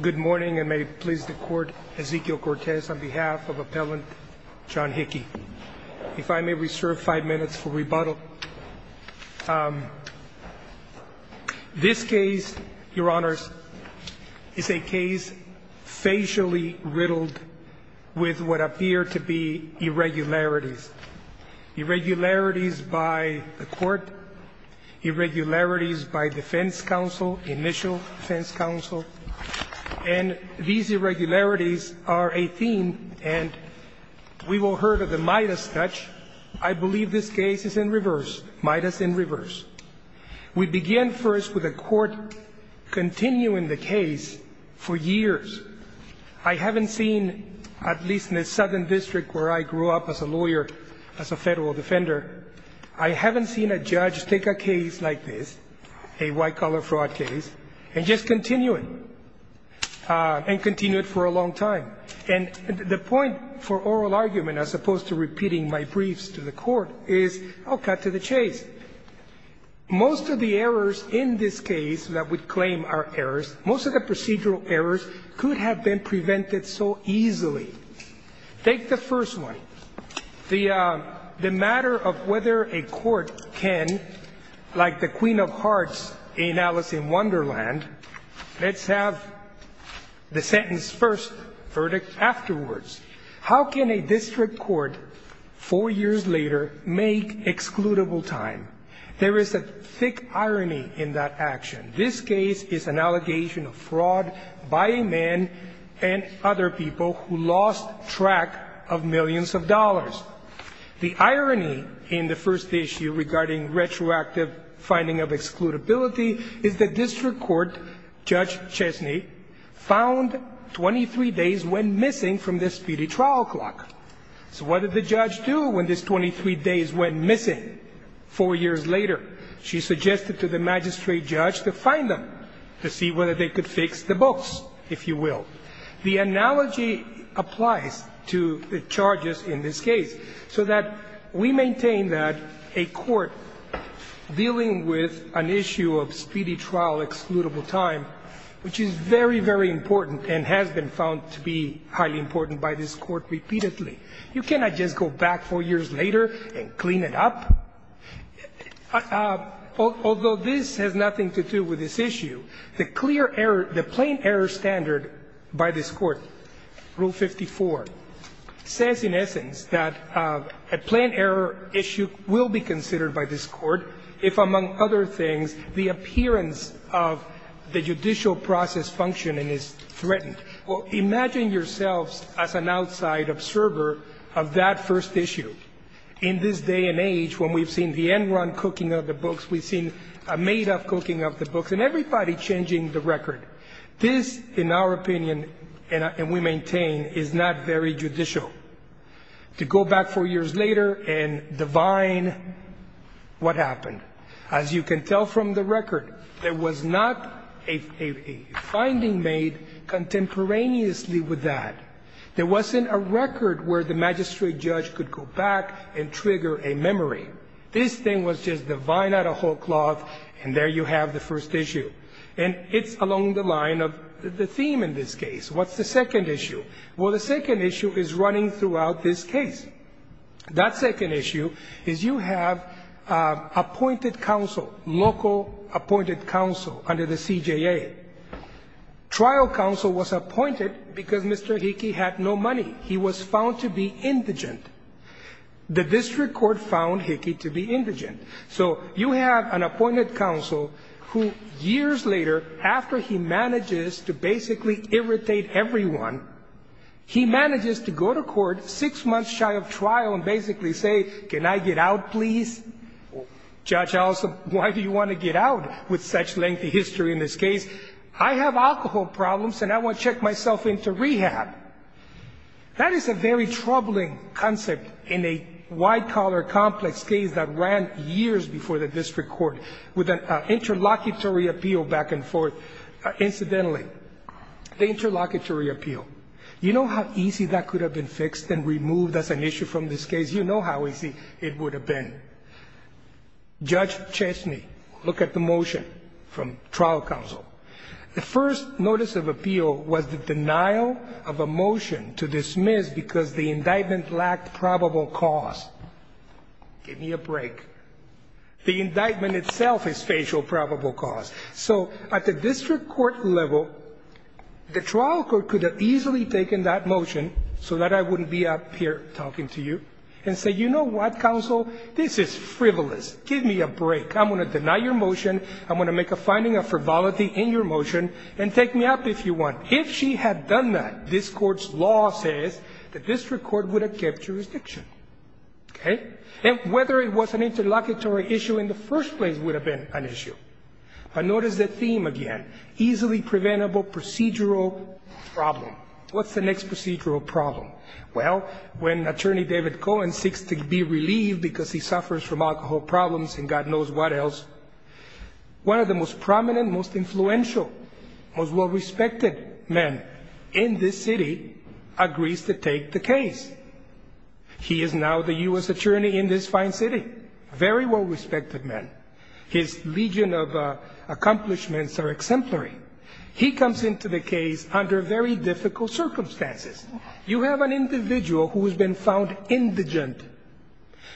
Good morning and may it please the court, Ezekiel Cortez, on behalf of Appellant John Hickey. If I may reserve five minutes for rebuttal. This case, your honors, is a case facially riddled with what appear to be irregularities. Irregularities by the court, irregularities by defense counsel, initial defense counsel, and these irregularities are a theme and we will hear of the Midas touch. I believe this case is in reverse, Midas in reverse. We begin first with a court continuing the case for years. I haven't seen, at least in the Southern District where I grew up as a lawyer, as a federal defender, I haven't seen a judge take a case like this, a white-collar fraud case, and just continue it, and continue it for a long time. And the point for oral argument, as opposed to repeating my briefs to the court, is I'll cut to the chase. Most of the errors in this case that we claim are errors, most of the procedural errors could have been prevented so easily. Take the first one. The matter of whether a court can, like the Queen of Hearts in Alice in Wonderland, let's have the sentence first, verdict afterwards. How can a district court four years later make excludable time? There is a thick irony in that action. This case is an allegation of fraud by a man and other people who lost track of millions of dollars. The irony in the first issue regarding retroactive finding of excludability is the district court, Judge Chesney, found 23 days went missing from the speedy trial clock. So what did the judge do when these 23 days went missing four years later? She suggested to the magistrate and the judge to find them, to see whether they could fix the books, if you will. The analogy applies to the charges in this case, so that we maintain that a court dealing with an issue of speedy trial excludable time, which is very, very important and has been found to be highly important by this court repeatedly, you cannot just go back four years later and clean it up. Although this has nothing to do with this issue, the clear error, the plain error standard by this Court, Rule 54, says in essence that a plain error issue will be considered by this Court if, among other things, the appearance of the judicial process functioning is threatened. Well, imagine yourselves as an outside observer of that first issue. In this day and age, when we've seen the end-run cooking of the books, we've seen a made-up cooking of the books, and everybody changing the record. This, in our opinion, and we maintain, is not very judicial. To go back four years later and divine what happened, as you can tell from the record, there was not a finding made contemporaneously with that. There wasn't a record where the magistrate judge could go back and trigger a memory. This thing was just divine out of whole cloth, and there you have the first issue. And it's along the line of the theme in this case. What's the second issue? Well, the second issue is running throughout this case. That second issue is you have appointed counsel, local appointed counsel, under the CJA. Trial counsel was appointed because Mr. Hickey had no money. He was found to be indigent. The district court found Hickey to be indigent. So you have an appointed counsel who, years later, after he manages to basically irritate everyone, he manages to go to court six months shy of trial and basically say, can I get out, please? Judge, why do you want to get out with such lengthy history in this case? I have alcohol problems, and I want to check myself into rehab. That is a very troubling concept in a wide-collar, complex case that ran years before the district court with an interlocutory appeal back and forth. Incidentally, the interlocutory appeal. You know how easy that could have been fixed and removed as an issue from this case? You know how easy it would have been. Judge Chesney, look at the motion from trial counsel. The first notice of appeal was the denial of a motion to dismiss because the indictment lacked probable cause. Give me a break. The indictment itself is facial probable cause. So at the district court level, the trial court could have easily taken that motion so that I wouldn't be up here talking to you and say, you know what, counsel, this is frivolous. Give me a break. I'm going to deny your motion. I'm going to make a finding of frivolity in your motion, and take me up if you want. If she had done that, this court's law says that district court would have kept jurisdiction. And whether it was an interlocutory issue in the first place would have been an issue. But notice the theme again. Easily preventable procedural problem. What's the next procedural problem? Well, when attorney David Cohen seeks to be relieved because he suffers from alcohol problems and God knows what else, one of the most prominent, most influential, most well-respected men in this city agrees to take the case. He is now the U.S. attorney in this fine city. Very well-respected man. His legion of accomplishments are exemplary. He comes into the case under very difficult circumstances. You have an individual who has been found indigent,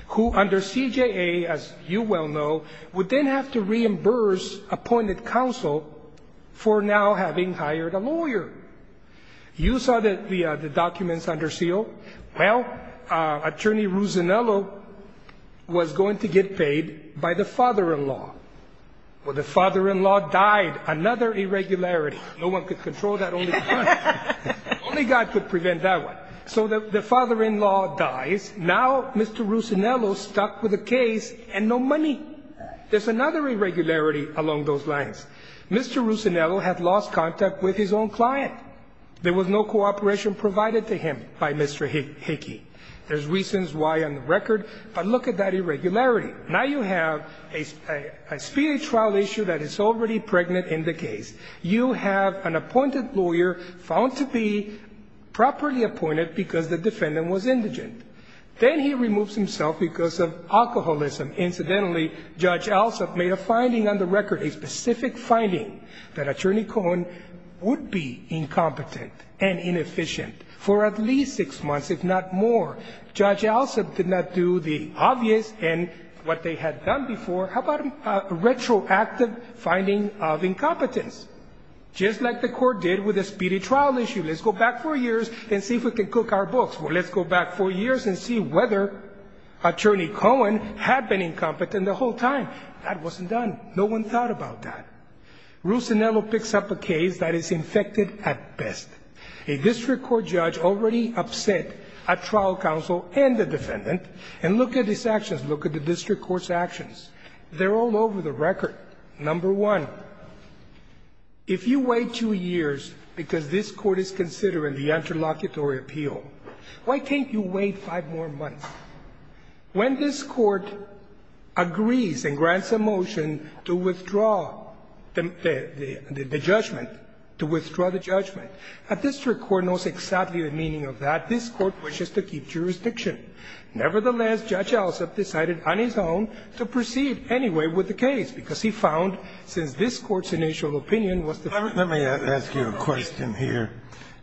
who under CJA, as you well know, would then have to reimburse appointed counsel for now having hired a lawyer. You saw the documents under seal. Well, attorney Ruzzinello was going to get paid by the father-in-law. Well, the father-in-law died, another irregularity. No one could control that, only God could prevent that one. So the father-in-law dies, now Mr. Ruzzinello's stuck with a case and no money. There's another irregularity along those lines. Mr. Ruzzinello had lost contact with his own client. There was no cooperation provided to him by Mr. Hickey. There's reasons why on the record, but look at that irregularity. Now you have a speedy trial issue that is already pregnant in the case. You have an appointed lawyer found to be properly appointed because the defendant was indigent, then he removes himself because of alcoholism. Incidentally, Judge Alsup made a finding on the record, a specific finding that attorney Cohen would be incompetent and inefficient for at least six months, if not more. Judge Alsup did not do the obvious and what they had done before. How about a retroactive finding of incompetence? Just like the court did with the speedy trial issue. Let's go back four years and see if we can cook our books. Well, let's go back four years and see whether attorney Cohen had been incompetent the whole time. That wasn't done. No one thought about that. Ruzzinello picks up a case that is infected at best. A district court judge already upset a trial counsel and the defendant. And look at these actions. Look at the district court's actions. They're all over the record. Number one, if you wait two years because this court is considering the interlocutory appeal, why can't you wait five more months? When this court agrees and grants a motion to withdraw the judgment, a district court knows exactly the meaning of that. This court wishes to keep jurisdiction. Nevertheless, Judge Alsup decided on his own to proceed anyway with the case, because he found, since this court's initial opinion was the first. Let me ask you a question here.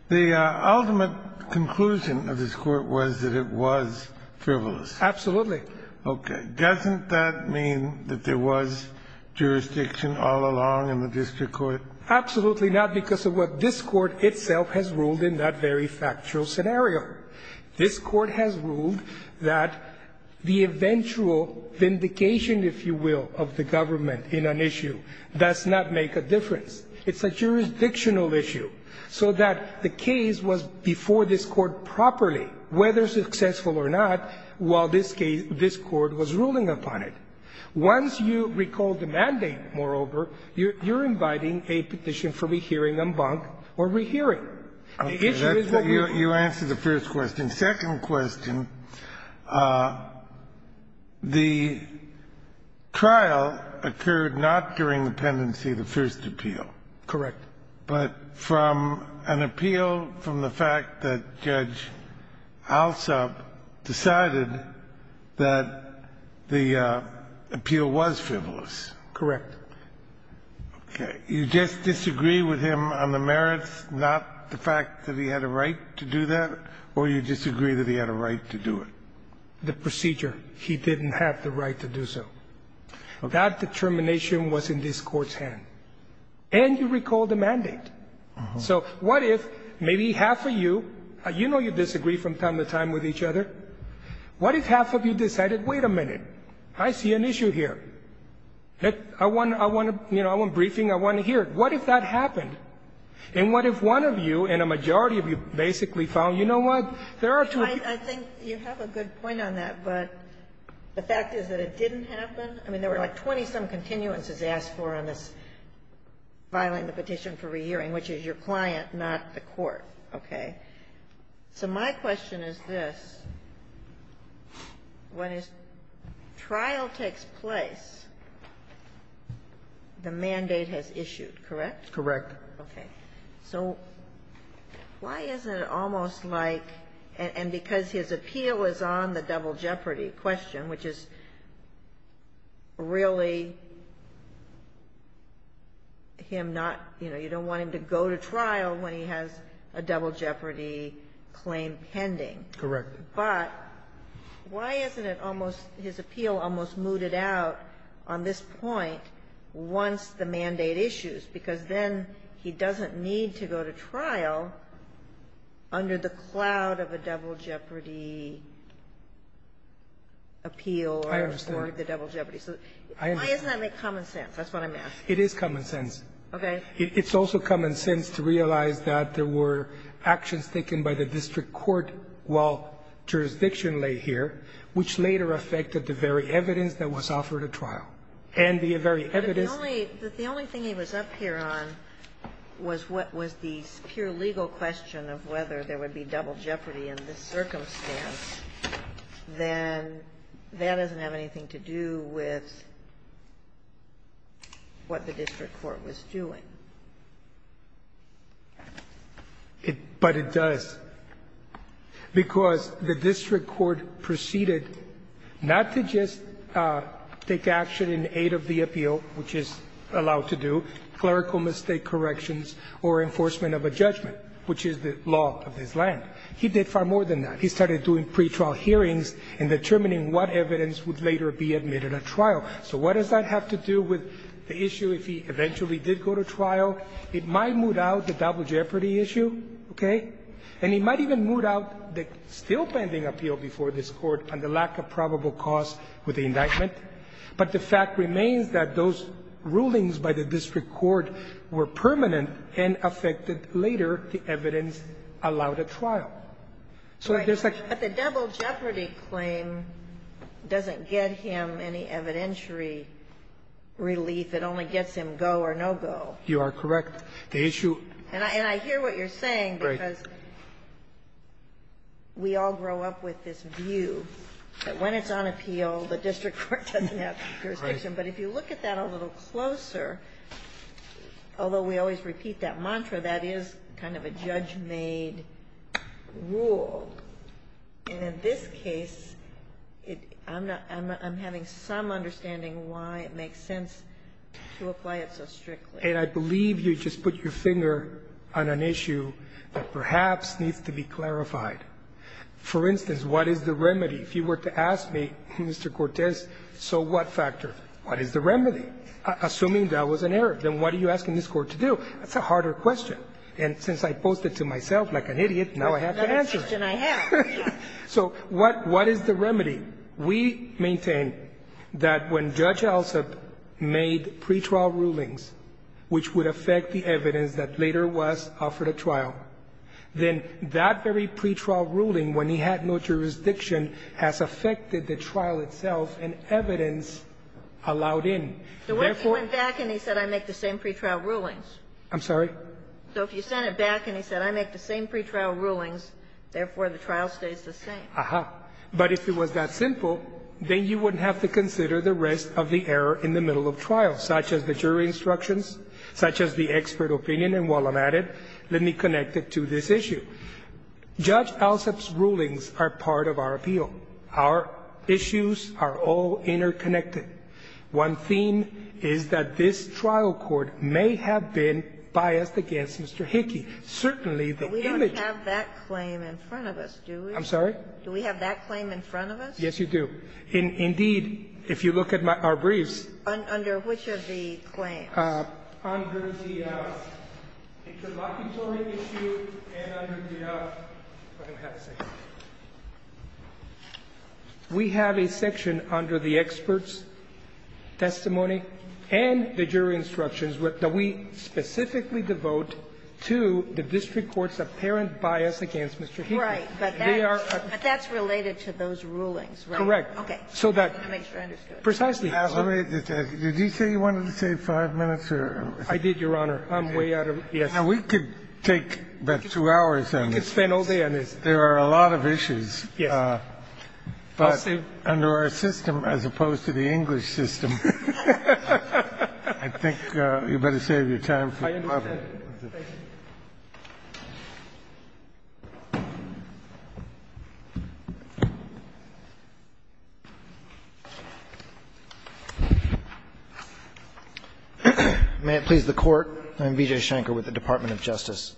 The ultimate conclusion of this court was that it was frivolous. Absolutely. Okay. Doesn't that mean that there was jurisdiction all along in the district court? Absolutely not, because of what this court itself has ruled in that very factual scenario. This court has ruled that the eventual vindication, if you will, of the government in an issue does not make a difference. It's a jurisdictional issue. So that the case was before this court properly, whether successful or not, while this court was ruling upon it. Once you recall the mandate, moreover, you're inviting a petition for rehearing en banc or rehearing. The issue is what we're doing. You answered the first question. Second question, the trial occurred not during the pendency of the first appeal. Correct. But from an appeal from the fact that Judge Alsup decided that the plaintiff appeal was frivolous. Correct. Okay. You just disagree with him on the merits, not the fact that he had a right to do that, or you disagree that he had a right to do it? The procedure. He didn't have the right to do so. That determination was in this court's hand. And you recall the mandate. So what if maybe half of you, you know you disagree from time to time with each other. What if half of you decided, wait a minute. I see an issue here. I want briefing. I want to hear it. What if that happened? And what if one of you and a majority of you basically found, you know what, there are two. I think you have a good point on that, but the fact is that it didn't happen. I mean, there were like 20-some continuances asked for on this filing the petition for rehearing, which is your client, not the court. Okay. So my question is this. When a trial takes place, the mandate has issued, correct? Correct. Okay. So why is it almost like, and because his appeal is on the double jeopardy question, which is really him not, you know, you don't want him to go to trial when he has a double jeopardy claim pending. Correct. But why isn't it almost, his appeal almost mooted out on this point once the mandate issues, because then he doesn't need to go to trial under the cloud of a double jeopardy appeal or the double jeopardy. I understand. So why doesn't that make common sense? That's what I'm asking. It is common sense. Okay. It's also common sense to realize that there were actions taken by the district court while jurisdiction lay here, which later affected the very evidence that was offered at trial. And the very evidence. But the only thing he was up here on was what was the pure legal question of whether there would be double jeopardy in this circumstance, then that doesn't have anything to do with what the district court was doing. But it does. Because the district court proceeded not to just take action in aid of the appeal, which is allowed to do, clerical mistake corrections or enforcement of a judgment, which is the law of this land. He did far more than that. He started doing pretrial hearings and determining what evidence would later be admitted at trial. So what does that have to do with the issue if he eventually did go to trial? It might moot out the double jeopardy issue, okay? And it might even moot out the still pending appeal before this Court and the lack of probable cause with the indictment. But the fact remains that those rulings by the district court were permanent and affected later the evidence allowed at trial. So I guess like the double jeopardy claim doesn't get him any evidentiary relief. It only gets him go or no-go. You are correct. The issue And I hear what you're saying, because we all grow up with this view that when it's on appeal, the district court doesn't have jurisdiction. But if you look at that a little closer, although we always repeat that mantra, that is kind of a judge-made rule. And in this case, I'm having some understanding why it makes sense to apply it so strictly. And I believe you just put your finger on an issue that perhaps needs to be clarified. For instance, what is the remedy? If you were to ask me, Mr. Cortez, so what factor? What is the remedy? Assuming that was an error, then what are you asking this Court to do? That's a harder question. And since I posed it to myself like an idiot, now I have to answer it. So what is the remedy? We maintain that when Judge Elzip made pretrial rulings, which would affect the evidence that later was offered at trial, then that very pretrial ruling, when he had no jurisdiction, has affected the trial itself and evidence allowed in. Therefore So what if he went back and he said, I make the same pretrial rulings? I'm sorry? So if you sent it back and he said, I make the same pretrial rulings, therefore the trial stays the same. Aha. But if it was that simple, then you wouldn't have to consider the rest of the error in the middle of trial, such as the jury instructions, such as the expert opinion. And while I'm at it, let me connect it to this issue. Judge Elzip's rulings are part of our appeal. Our issues are all interconnected. One theme is that this trial court may have been biased against Mr. Hickey. Certainly the image of that claim in front of us, do we? I'm sorry? Do we have that claim in front of us? Yes, you do. Indeed, if you look at our briefs. Under which of the claims? Under the interlocutory issue and under the other. We have a section under the expert's testimony and the jury instructions that we specifically devote to the district court's apparent bias against Mr. Hickey. Right. But that's related to those rulings, right? Correct. Okay. So that's precisely. Did he say he wanted to save five minutes? I did, Your Honor. Yes. Now, we could take about two hours on this. We could spend all day on this. There are a lot of issues. Yes. But under our system, as opposed to the English system, I think you better save your time for the public. I understand. Thank you. May it please the Court. I'm Vijay Shankar with the Department of Justice.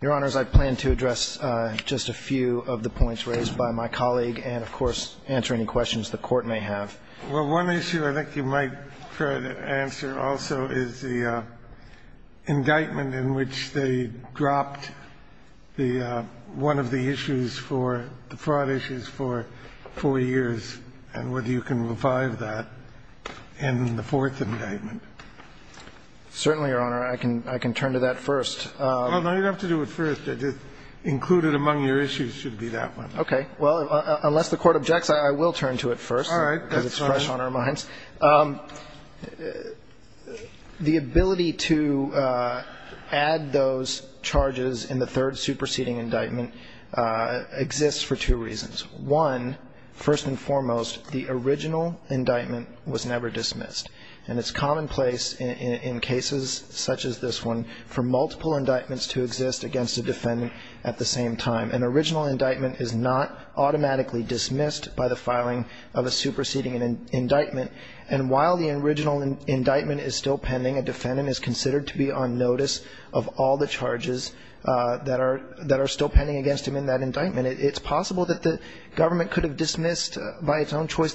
Your Honors, I plan to address just a few of the points raised by my colleague and, of course, answer any questions the Court may have. Well, one issue I think you might try to answer also is the indictment in which they dropped the one of the issues for the fraud issues for four years and whether you can revive that in the fourth indictment. Certainly, Your Honor. I can turn to that first. No, you don't have to do it first. Include it among your issues should be that one. Okay. Well, unless the Court objects, I will turn to it first. All right. That's fine. Because it's fresh on our minds. The ability to add those charges in the third superseding indictment exists for two reasons. One, first and foremost, the original indictment was never dismissed. And it's commonplace in cases such as this one for multiple indictments to exist against a defendant at the same time. An original indictment is not automatically dismissed by the filing of a superseding an indictment. And while the original indictment is still pending, a defendant is considered to be on notice of all the charges that are still pending against him in that indictment. It's possible that the government could have dismissed by its own choice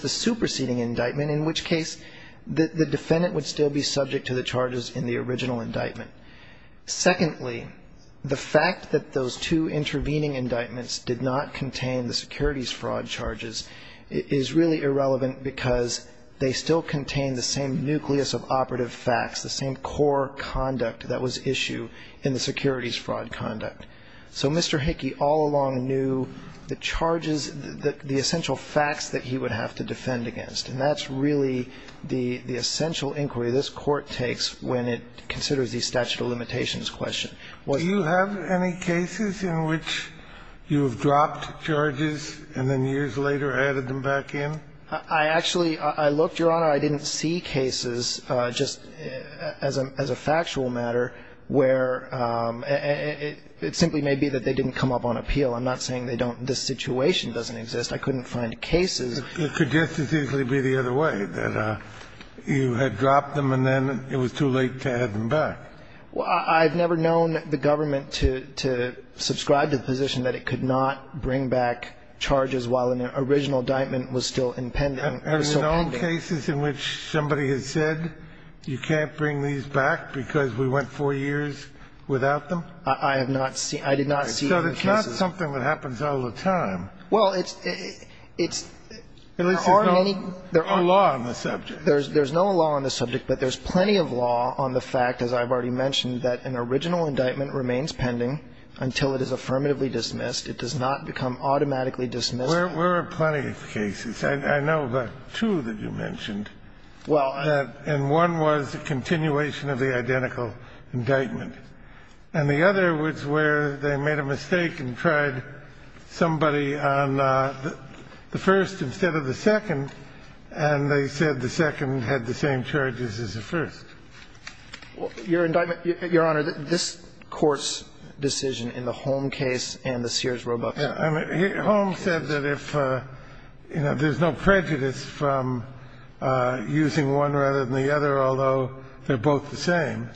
the defendant would still be subject to the charges in the original indictment. Secondly, the fact that those two intervening indictments did not contain the securities fraud charges is really irrelevant because they still contain the same nucleus of operative facts, the same core conduct that was issue in the securities fraud conduct. So Mr. Hickey all along knew the charges, the essential facts that he would have to defend against. And that's really the essential inquiry this Court takes when it considers the statute of limitations question. Do you have any cases in which you have dropped charges and then years later added them back in? I actually, I looked, Your Honor. I didn't see cases just as a factual matter where it simply may be that they didn't come up on appeal. I'm not saying they don't, this situation doesn't exist. I couldn't find cases. It could just as easily be the other way, that you had dropped them and then it was too late to add them back. I've never known the government to subscribe to the position that it could not bring back charges while an original indictment was still impending. Are there known cases in which somebody has said you can't bring these back because we went four years without them? I have not seen. I did not see those cases. So it's not something that happens all the time. Well, it's, it's, there aren't any, there aren't, there's no law on the subject. But there's plenty of law on the fact, as I've already mentioned, that an original indictment remains pending until it is affirmatively dismissed. It does not become automatically dismissed. There are plenty of cases. I know of two that you mentioned. Well, and one was the continuation of the identical indictment. And the other was where they made a mistake and tried somebody on the first instead of the second, and they said the second had the same charges as the first. Your indictment, Your Honor, this Court's decision in the Holm case and the Sears-Roebuck case. Holm said that if, you know, there's no prejudice from using one rather than the other, although they're both the same.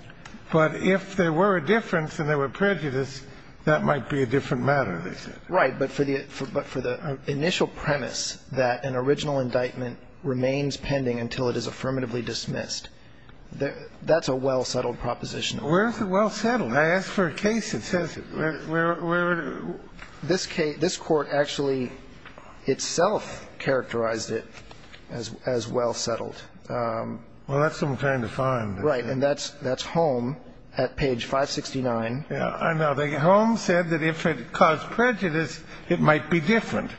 But if there were a difference and there were prejudice, that might be a different matter, they said. Right. But for the, but for the initial premise that an original indictment remains pending until it is affirmatively dismissed, that's a well-settled proposition. Where is it well-settled? I asked for a case that says it. This case, this Court actually itself characterized it as, as well-settled. Well, that's what I'm trying to find. Right. And that's, that's Holm at page 569. Yeah, I know. The Holm said that if it caused prejudice, it might be different,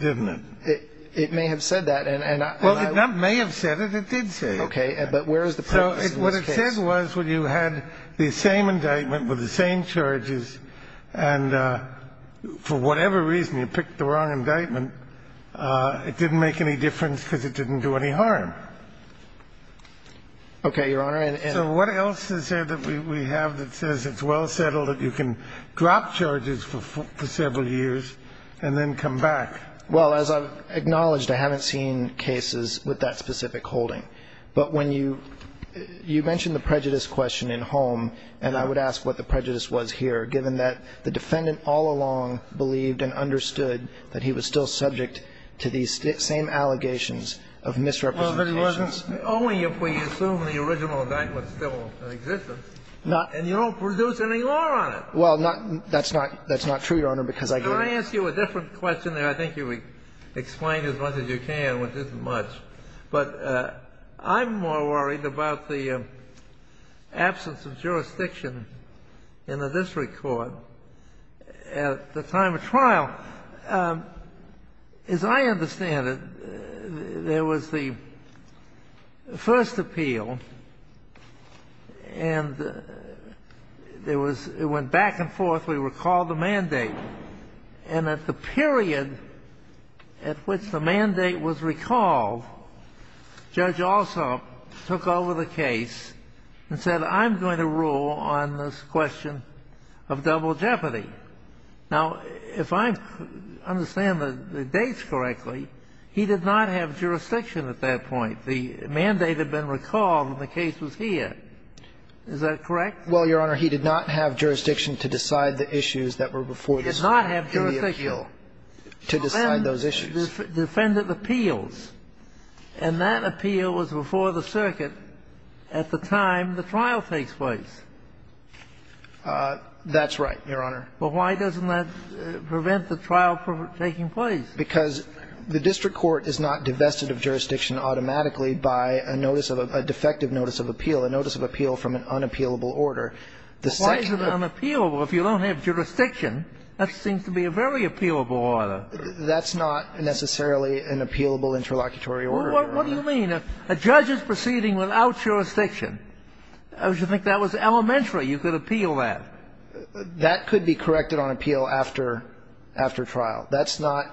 didn't it? It, it may have said that. And, and I. Well, it may have said it. It did say it. Okay. But where is the premise in this case? What it said was when you had the same indictment with the same charges and for whatever reason you picked the wrong indictment, it didn't make any difference because it didn't do any harm. Okay, Your Honor. And. So what else is there that we, we have that says it's well-settled that you can drop charges for, for several years and then come back? Well, as I've acknowledged, I haven't seen cases with that specific holding. But when you, you mentioned the prejudice question in Holm. And I would ask what the prejudice was here, given that the defendant all along believed and understood that he was still subject to these same allegations of misrepresentation. Only if we assume the original indictment still exists and you don't produce any law on it. Well, not, that's not, that's not true, Your Honor, because I. Can I ask you a different question there? I think you've explained as much as you can, which isn't much. But I'm more worried about the absence of jurisdiction in the district court at the time of trial. As I understand it, there was the first appeal and there was, it went back and forth. We recalled the mandate and at the period at which the mandate was recalled, Judge Alsop took over the case and said, I'm going to rule on this question of double jeopardy. Now, if I understand the dates correctly, he did not have jurisdiction at that point. The mandate had been recalled and the case was here. Is that correct? Well, Your Honor, he did not have jurisdiction to decide the issues that were before the appeal, to decide those issues. Defendant appeals, and that appeal was before the circuit at the time the trial takes place. That's right, Your Honor. But why doesn't that prevent the trial from taking place? Because the district court is not divested of jurisdiction automatically by a notice of a defective notice of appeal, a notice of appeal from an unappealable order. Why is it unappealable if you don't have jurisdiction? That seems to be a very appealable order. That's not necessarily an appealable interlocutory order, Your Honor. What do you mean? A judge is proceeding without jurisdiction. I would think that was elementary. You could appeal that. That could be corrected on appeal after trial. That's not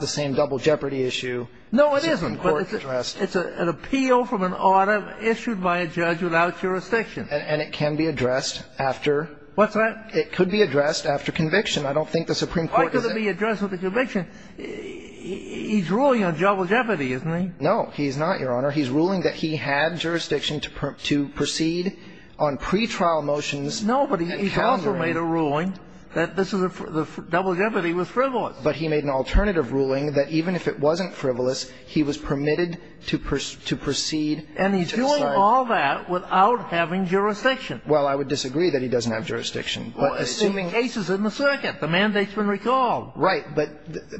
the same double jeopardy issue the Supreme Court addressed. No, it isn't, but it's an appeal from an order issued by a judge without jurisdiction. And it can be addressed after. What's that? It could be addressed after conviction. I don't think the Supreme Court is. Why could it be addressed with a conviction? He's ruling on double jeopardy, isn't he? No, he's not, Your Honor. He's ruling that he had jurisdiction to proceed on pretrial motions. No, but he's also made a ruling that this is a double jeopardy with frivolous. But he made an alternative ruling that even if it wasn't frivolous, he was permitted to proceed to decide. And he's doing all that without having jurisdiction. Well, I would disagree that he doesn't have jurisdiction. But assuming the case is in the circuit, the mandate's been recalled. Right. But,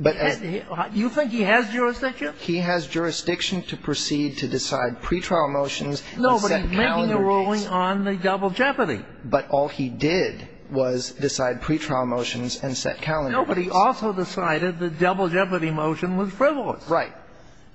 but, but. You think he has jurisdiction? He has jurisdiction to proceed to decide pretrial motions and set calendar dates. No, but he's making a ruling on the double jeopardy. But all he did was decide pretrial motions and set calendar dates. No, but he also decided the double jeopardy motion was frivolous. Right.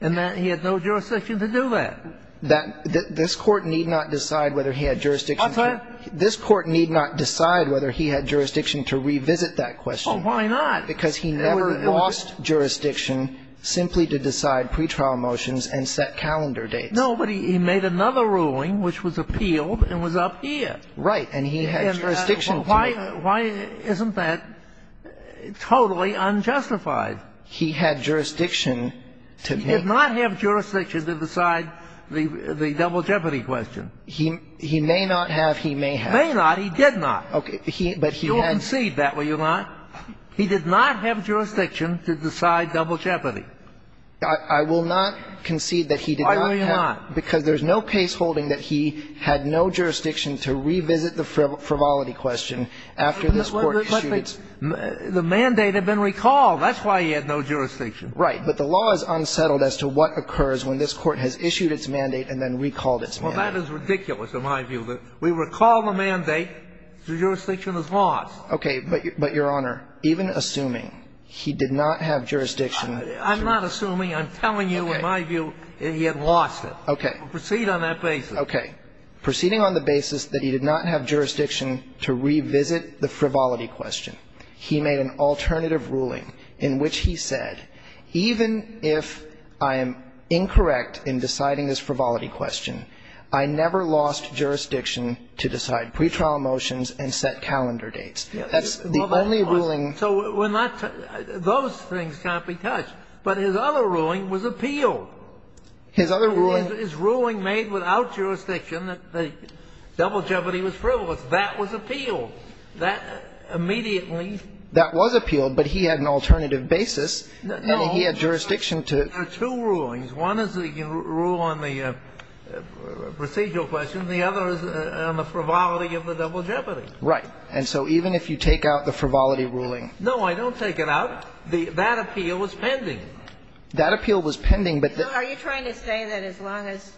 And that he had no jurisdiction to do that. That this Court need not decide whether he had jurisdiction to. What's that? This Court need not decide whether he had jurisdiction to revisit that question. Oh, why not? Because he never lost jurisdiction simply to decide pretrial motions and set calendar dates. No, but he made another ruling which was appealed and was up here. Right. And he had jurisdiction to. Why, why isn't that totally unjustified? He had jurisdiction to make. He did not have jurisdiction to decide the double jeopardy question. He may not have. He may have. May not. He did not. Okay. He, but he had. You'll concede that, will you not? He did not have jurisdiction to decide double jeopardy. I will not concede that he did not have. Why will you not? Because there's no case holding that he had no jurisdiction to revisit the frivolity question after this Court issued its. The mandate had been recalled. That's why he had no jurisdiction. Right. But the law is unsettled as to what occurs when this Court has issued its mandate and then recalled its mandate. Well, that is ridiculous in my view. We recall the mandate. The jurisdiction is lost. Okay. But, Your Honor, even assuming he did not have jurisdiction. I'm not assuming. I'm telling you, in my view, he had lost it. Okay. Proceed on that basis. Okay. Proceeding on the basis that he did not have jurisdiction to revisit the frivolity question, he made an alternative ruling in which he said, even if I am incorrect in deciding this frivolity question, I never lost jurisdiction to decide pretrial motions and set calendar dates. That's the only ruling. So we're not too – those things can't be touched. But his other ruling was appealed. His other ruling. His ruling made without jurisdiction that the double jeopardy was frivolous. That was appealed. That immediately. That was appealed, but he had an alternative basis. No. He had jurisdiction to. There are two rulings. One is the rule on the procedural question. The other is on the frivolity of the double jeopardy. Right. And so even if you take out the frivolity ruling. No, I don't take it out. That appeal was pending. That appeal was pending, but. Are you trying to say that as long as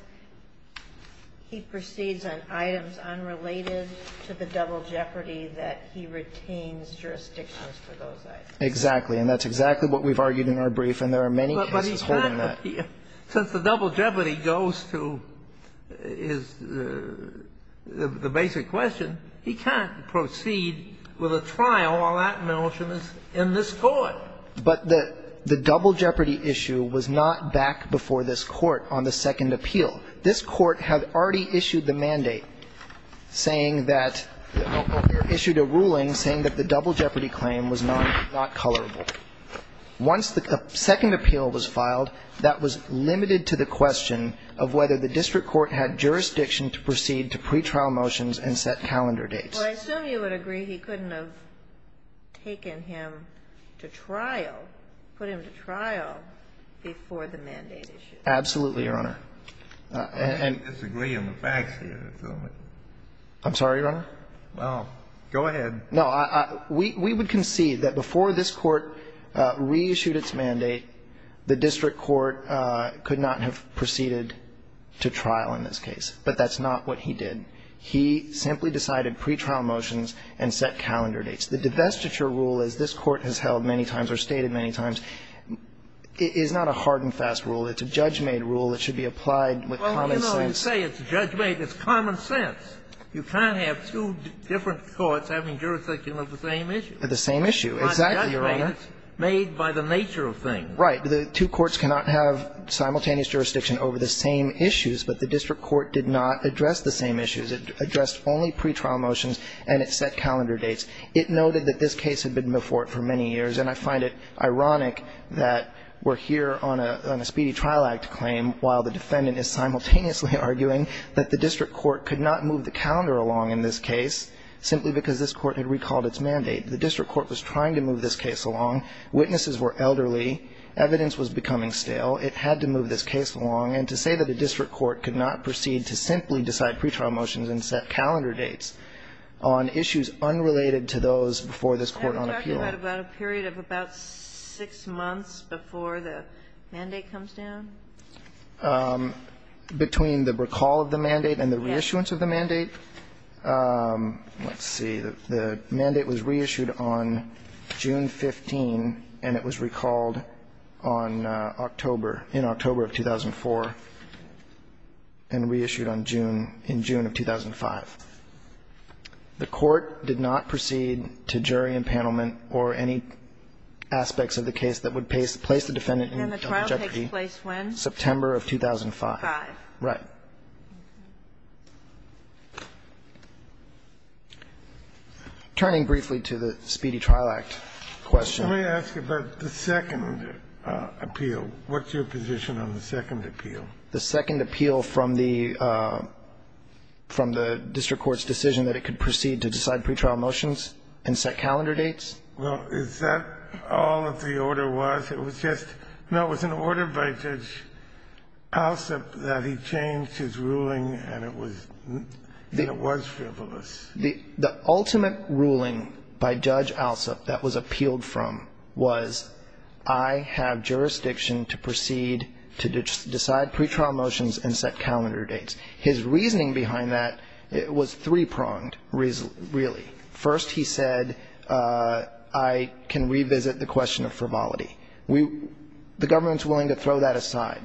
he proceeds on items unrelated to the double jeopardy that he retains jurisdiction for those items? Exactly. And that's exactly what we've argued in our brief, and there are many cases holding that. But he can't appeal. Since the double jeopardy goes to his – the basic question, he can't proceed with a trial while that motion is in this Court. But the double jeopardy issue was not back before this Court on the second appeal. This Court had already issued the mandate saying that – issued a ruling saying that the double jeopardy claim was not colorable. Once the second appeal was filed, that was limited to the question of whether the district court had jurisdiction to proceed to pretrial motions and set calendar dates. Well, I assume you would agree he couldn't have taken him to trial, put him to trial before the mandate issue. Absolutely, Your Honor. I disagree on the facts here. I'm sorry, Your Honor? Well, go ahead. No, we would concede that before this Court reissued its mandate, the district court could not have proceeded to trial in this case. But that's not what he did. He simply decided pretrial motions and set calendar dates. The divestiture rule, as this Court has held many times or stated many times, is not a hard and fast rule. It's a judge-made rule that should be applied with common sense. Well, you know, you say it's judge-made. It's common sense. You can't have two different courts having jurisdiction over the same issue. The same issue. Exactly, Your Honor. It's not judge-made, it's made by the nature of things. Right. The two courts cannot have simultaneous jurisdiction over the same issues, but the It addressed only pretrial motions and it set calendar dates. It noted that this case had been before it for many years, and I find it ironic that we're here on a Speedy Trial Act claim while the defendant is simultaneously arguing that the district court could not move the calendar along in this case simply because this Court had recalled its mandate. The district court was trying to move this case along. Witnesses were elderly. Evidence was becoming stale. It had to move this case along. And to say that a district court could not proceed to simply decide pretrial motions and set calendar dates on issues unrelated to those before this Court on appeal. Are we talking about a period of about six months before the mandate comes down? Between the recall of the mandate and the reissuance of the mandate. Let's see. The mandate was reissued on June 15, and it was recalled on October, in October of 2004, and reissued on June, in June of 2005. The Court did not proceed to jury impanelment or any aspects of the case that would place the defendant in jeopardy. And the trial takes place when? September of 2005. Right. Turning briefly to the Speedy Trial Act question. Let me ask about the second appeal. What's your position on the second appeal? The second appeal from the district court's decision that it could proceed to decide pretrial motions and set calendar dates? Well, is that all that the order was? It was just an order by Judge Alsup that he changed his ruling, and it was frivolous. The ultimate ruling by Judge Alsup that was appealed from was, I have jurisdiction to proceed to decide pretrial motions and set calendar dates. His reasoning behind that was three-pronged, really. First, he said, I can revisit the question of frivolity. We, the government's willing to throw that aside.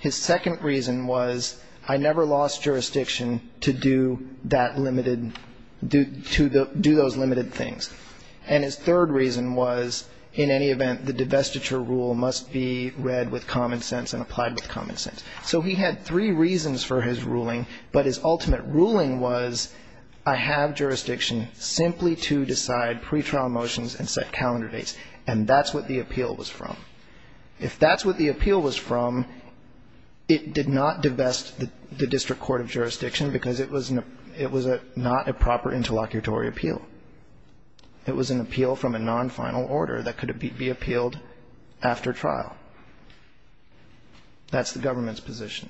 His second reason was, I never lost jurisdiction to do that limited do those limited things. And his third reason was, in any event, the divestiture rule must be read with common sense and applied with common sense. So he had three reasons for his ruling, but his ultimate ruling was, I have jurisdiction simply to decide pretrial motions and set calendar dates. And that's what the appeal was from. If that's what the appeal was from, it did not divest the district court of jurisdiction because it was not a proper interlocutory appeal. It was an appeal from a non-final order that could be appealed after trial. That's the government's position.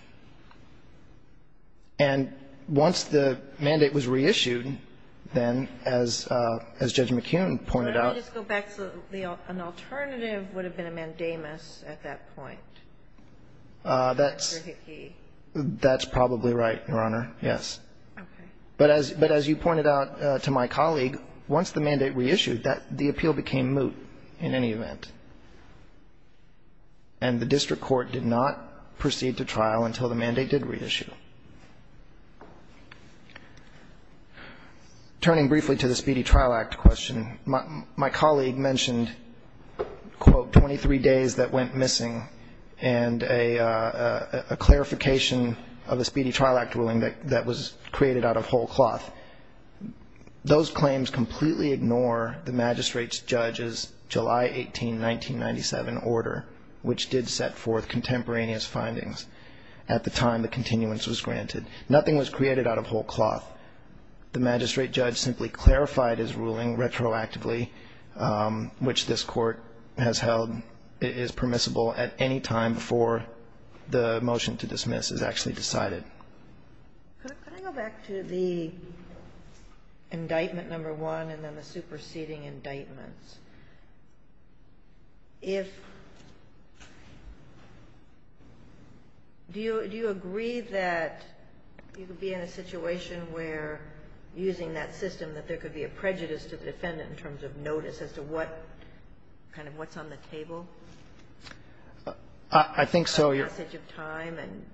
And once the mandate was reissued, then, as Judge McHughn pointed out the alternative would have been a mandamus at that point. That's probably right, Your Honor. Yes. But as you pointed out to my colleague, once the mandate reissued, the appeal became moot in any event. And the district court did not proceed to trial until the mandate did reissue. Turning briefly to the Speedy Trial Act question, my colleague mentioned quote, 23 days that went missing and a clarification of the Speedy Trial Act ruling that was created out of whole cloth. Those claims completely ignore the magistrate's judge's July 18, 1997 order, which did set forth contemporaneous findings at the time the continuance was granted. Nothing was created out of whole cloth. The magistrate judge simply clarified his ruling retroactively, which this court has held is permissible at any time before the motion to dismiss is actually decided. Could I go back to the indictment number one and then the superseding indictments? If do you agree that you could be in a situation where using that system that there could be a prejudice to the defendant in terms of notice as to what kind of what's on the table? I think so. A passage of time and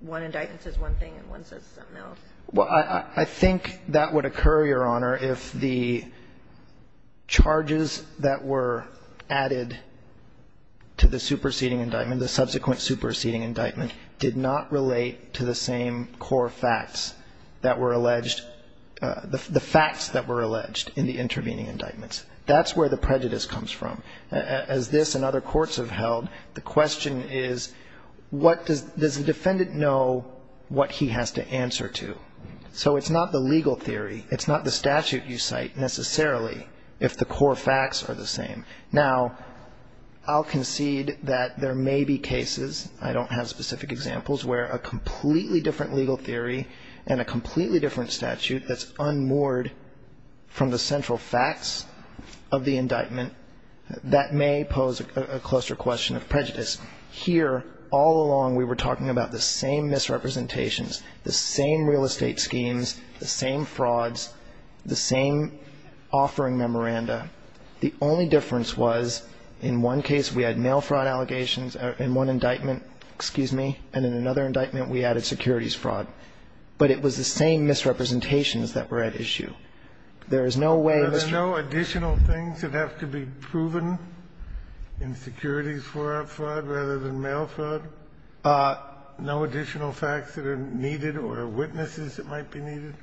one indictment says one thing and one says something else. Well, I think that would occur, Your Honor, if the charges that were added to the superseding indictment, the subsequent superseding indictment did not relate to the same core facts that were alleged, the facts that were alleged in the intervening indictments. That's where the prejudice comes from. As this and other courts have held, the question is does the defendant know what he has to answer to? So it's not the legal theory. It's not the statute you cite necessarily if the core facts are the same. Now, I'll concede that there may be cases, I don't have specific examples, where a completely different legal theory and a completely different statute that's unmoored from the central facts of the indictment that may pose a closer question of prejudice. Here, all along, we were talking about the same misrepresentations, the same real estate schemes, the same frauds, the same offering memoranda. The only difference was in one case we had mail fraud allegations in one indictment, excuse me, and in another indictment we added securities fraud. But it was the same misrepresentations that were at issue. There is no way, Mr. ---- Do you know additional things that have to be proven in securities fraud rather than mail fraud? No additional facts that are needed or witnesses that might be needed?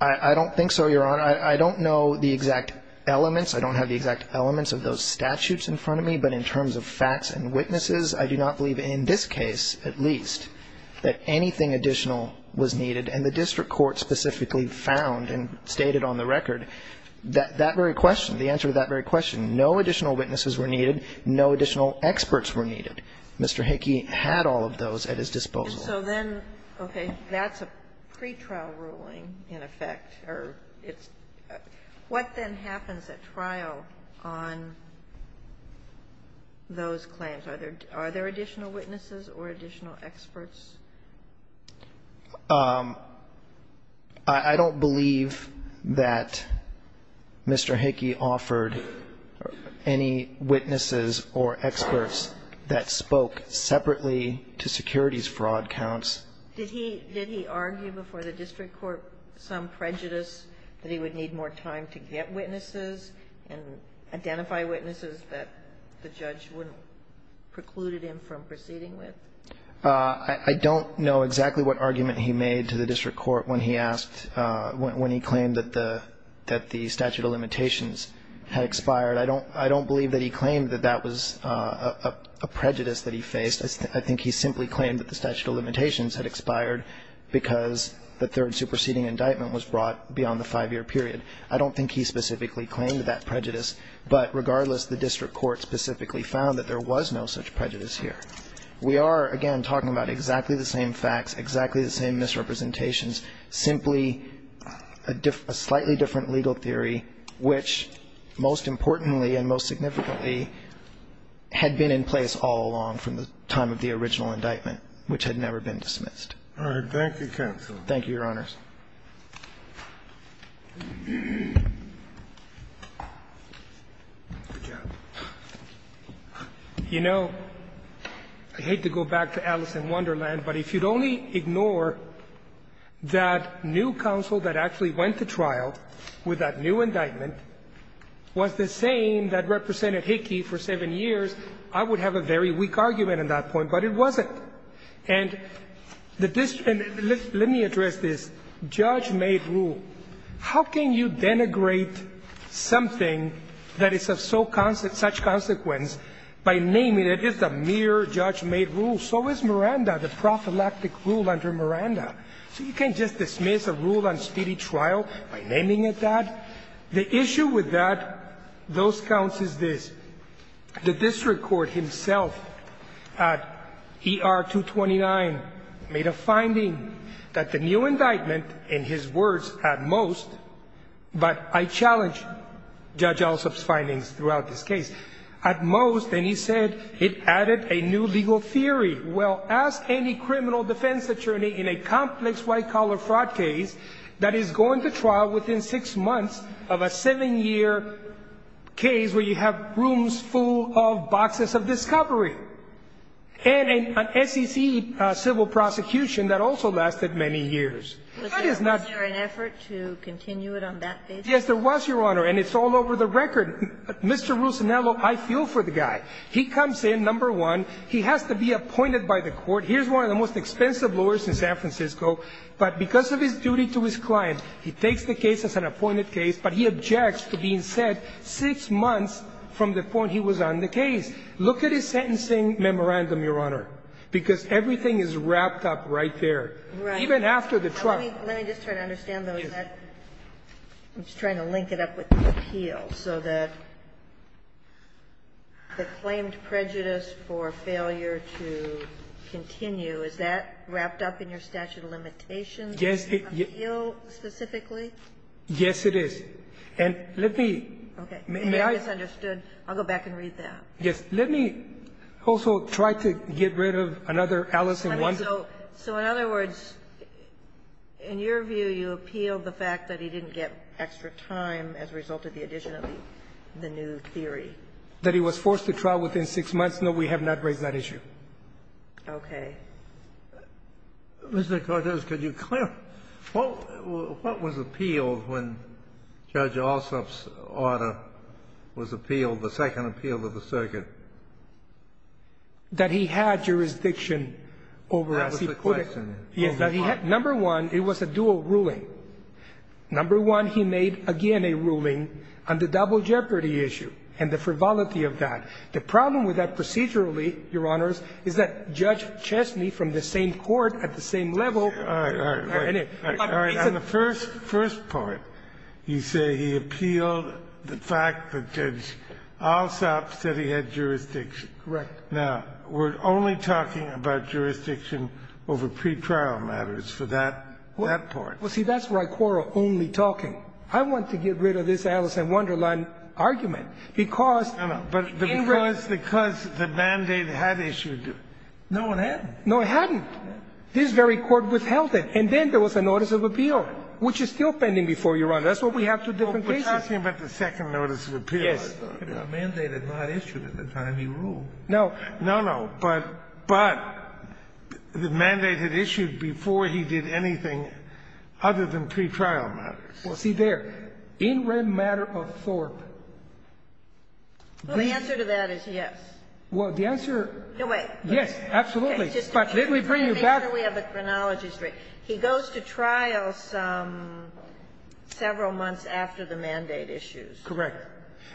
I don't think so, Your Honor. I don't know the exact elements. I don't have the exact elements of those statutes in front of me. But in terms of facts and witnesses, I do not believe in this case, at least, that anything additional was needed. And the district court specifically found and stated on the record that that very question, the answer to that very question, no additional witnesses were needed. No additional experts were needed. Mr. Hickey had all of those at his disposal. So then, okay, that's a pretrial ruling, in effect, or it's ---- what then happens at trial on those claims? Are there additional witnesses or additional experts? I don't believe that Mr. Hickey offered any witnesses or experts that spoke separately to securities fraud counts. Did he argue before the district court some prejudice that he would need more time to get witnesses and identify witnesses that the judge wouldn't preclude him from proceeding with? I don't know exactly what argument he made to the district court when he asked ---- when he claimed that the statute of limitations had expired. I don't believe that he claimed that that was a prejudice that he faced. I think he simply claimed that the statute of limitations had expired because the third superseding indictment was brought beyond the five-year period. I don't think he specifically claimed that prejudice. But regardless, the district court specifically found that there was no such prejudice here. We are, again, talking about exactly the same facts, exactly the same misrepresentations, simply a slightly different legal theory which, most importantly and most significantly, had been in place all along from the time of the original indictment, which had never been dismissed. All right. Thank you, counsel. Thank you, Your Honors. You know, I hate to go back to Alice in Wonderland, but if you'd only ignore that new counsel that actually went to trial with that new indictment was the same that represented Hickey for seven years, I would have a very weak argument at that point. But it wasn't. And let me address this. Judge-made rule. How can you denigrate something that is of such consequence by naming it as a mere judge-made rule? So is Miranda, the prophylactic rule under Miranda. So you can't just dismiss a rule on speedy trial by naming it that. The issue with that, those counts, is this. The district court himself at ER 229 made a finding that the new indictment, in his words, at most, but I challenge Judge Alsop's findings throughout this case, at most, and he said, it added a new legal theory. Well, ask any criminal defense attorney in a complex white-collar fraud case that is going to trial within six months of a seven-year case where you have rooms full of boxes of discovery. And an SEC civil prosecution that also lasted many years. Was there an effort to continue it on that basis? Yes, there was, Your Honor, and it's all over the record. Mr. Russinello, I feel for the guy. He comes in, number one. He has to be appointed by the court. Here's one of the most expensive lawyers in San Francisco. But because of his duty to his client, he takes the case as an appointed case, but he objects to being sent six months from the point he was on the case. Look at his sentencing memorandum, Your Honor, because everything is wrapped up right there. Even after the trial. Let me just try to understand, though. I'm just trying to link it up with the appeal. So the claimed prejudice for failure to continue, is that wrapped up in your statute of limitations? Yes. Appeal specifically? Yes, it is. And let me. Okay. Maybe I misunderstood. I'll go back and read that. Yes. Let me also try to get rid of another Alice in Wonderland. So in other words, in your view, you appealed the fact that he didn't get extra time as a result of the addition of the new theory? That he was forced to trial within six months? No, we have not raised that issue. Okay. Mr. Cortez, could you clarify, what was appealed when Judge Alsop's order was appealed, the second appeal of the circuit? That he had jurisdiction over as he put it. That was the question. Number one, it was a dual ruling. Number one, he made again a ruling on the double jeopardy issue and the frivolity of that. The problem with that procedurally, Your Honors, is that Judge Chesney from the same court at the same level. All right. All right. On the first part, you say he appealed the fact that Judge Alsop said he had jurisdiction. Correct. Now, we're only talking about jurisdiction over pretrial matters for that part. Well, see, that's where I quarrel only talking. I want to get rid of this Alice in Wonderland argument. Because. No, no. Because the mandate had issued. No, it hadn't. No, it hadn't. This very court withheld it. And then there was a notice of appeal, which is still pending before, Your Honor. That's what we have two different cases. We're talking about the second notice of appeal. Yes. The mandate had not issued at the time he ruled. No. No, no. But the mandate had issued before he did anything other than pretrial matters. Well, see there. In rem matter of Thorpe. Well, the answer to that is yes. Well, the answer. No, wait. Yes, absolutely. But let me bring you back. Let me make sure we have the chronologies right. He goes to trial several months after the mandate issues. Correct.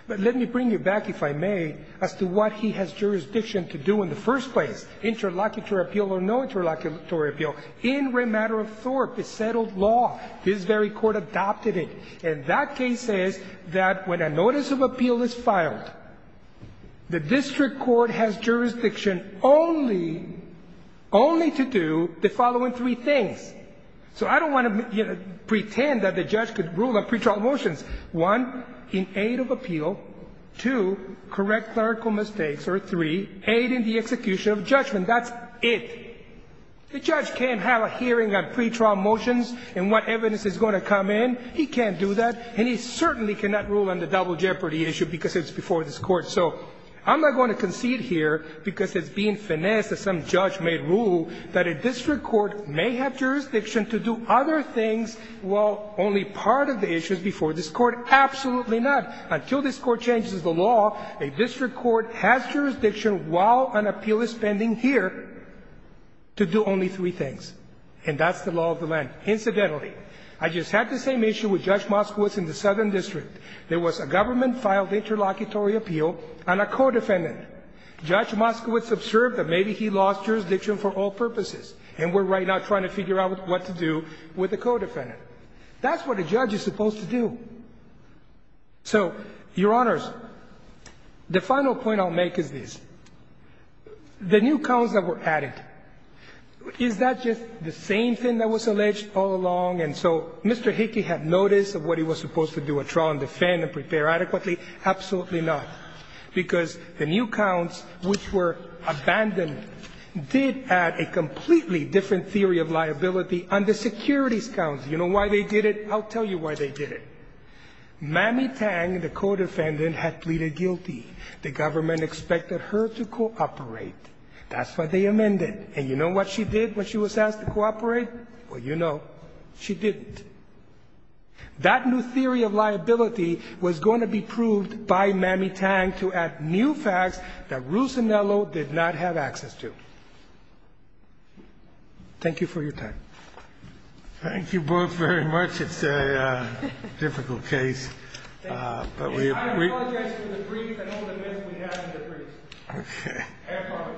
But let me bring you back, if I may, as to what he has jurisdiction to do in the first place, interlocutory appeal or no interlocutory appeal. In rem matter of Thorpe, it's settled law. His very court adopted it. And that case says that when a notice of appeal is filed, the district court has jurisdiction only, only to do the following three things. So I don't want to pretend that the judge could rule on pretrial motions. One, in aid of appeal. Two, correct clerical mistakes. Or three, aid in the execution of judgment. That's it. The judge can't have a hearing on pretrial motions and what evidence is going to come in. He can't do that. And he certainly cannot rule on the double jeopardy issue because it's before this court. So I'm not going to concede here because it's being finessed that some judge may rule that a district court may have jurisdiction to do other things while only part of the issue is before this court. Absolutely not. Until this court changes the law, a district court has jurisdiction while an appeal is pending here to do only three things. And that's the law of the land. Incidentally, I just had the same issue with Judge Moskowitz in the Southern District. There was a government-filed interlocutory appeal on a codefendant. Judge Moskowitz observed that maybe he lost jurisdiction for all purposes. And we're right now trying to figure out what to do with the codefendant. That's what a judge is supposed to do. So, Your Honors, the final point I'll make is this. The new counts that were added, is that just the same thing that was alleged all along and so Mr. Hickey had notice of what he was supposed to do, withdraw and defend and prepare adequately? Absolutely not. Because the new counts, which were abandoned, did add a completely different theory of liability on the securities counts. You know why they did it? I'll tell you why they did it. Mamie Tang, the codefendant, had pleaded guilty. The government expected her to cooperate. That's why they amended. And you know what she did when she was asked to cooperate? Well, you know. She didn't. That new theory of liability was going to be proved by Mamie Tang to add new facts that Ruzinello did not have access to. Thank you for your time. Thank you both very much. It's a difficult case. I apologize for the brief and all the mess we had in the brief. Okay. Have fun.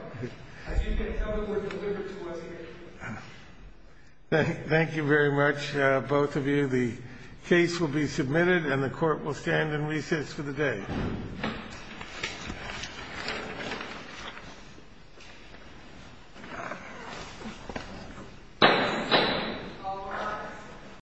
As you can tell, it was delivered to us here. Thank you very much, both of you. The case will be submitted and the Court will stand in recess for the day. All rise.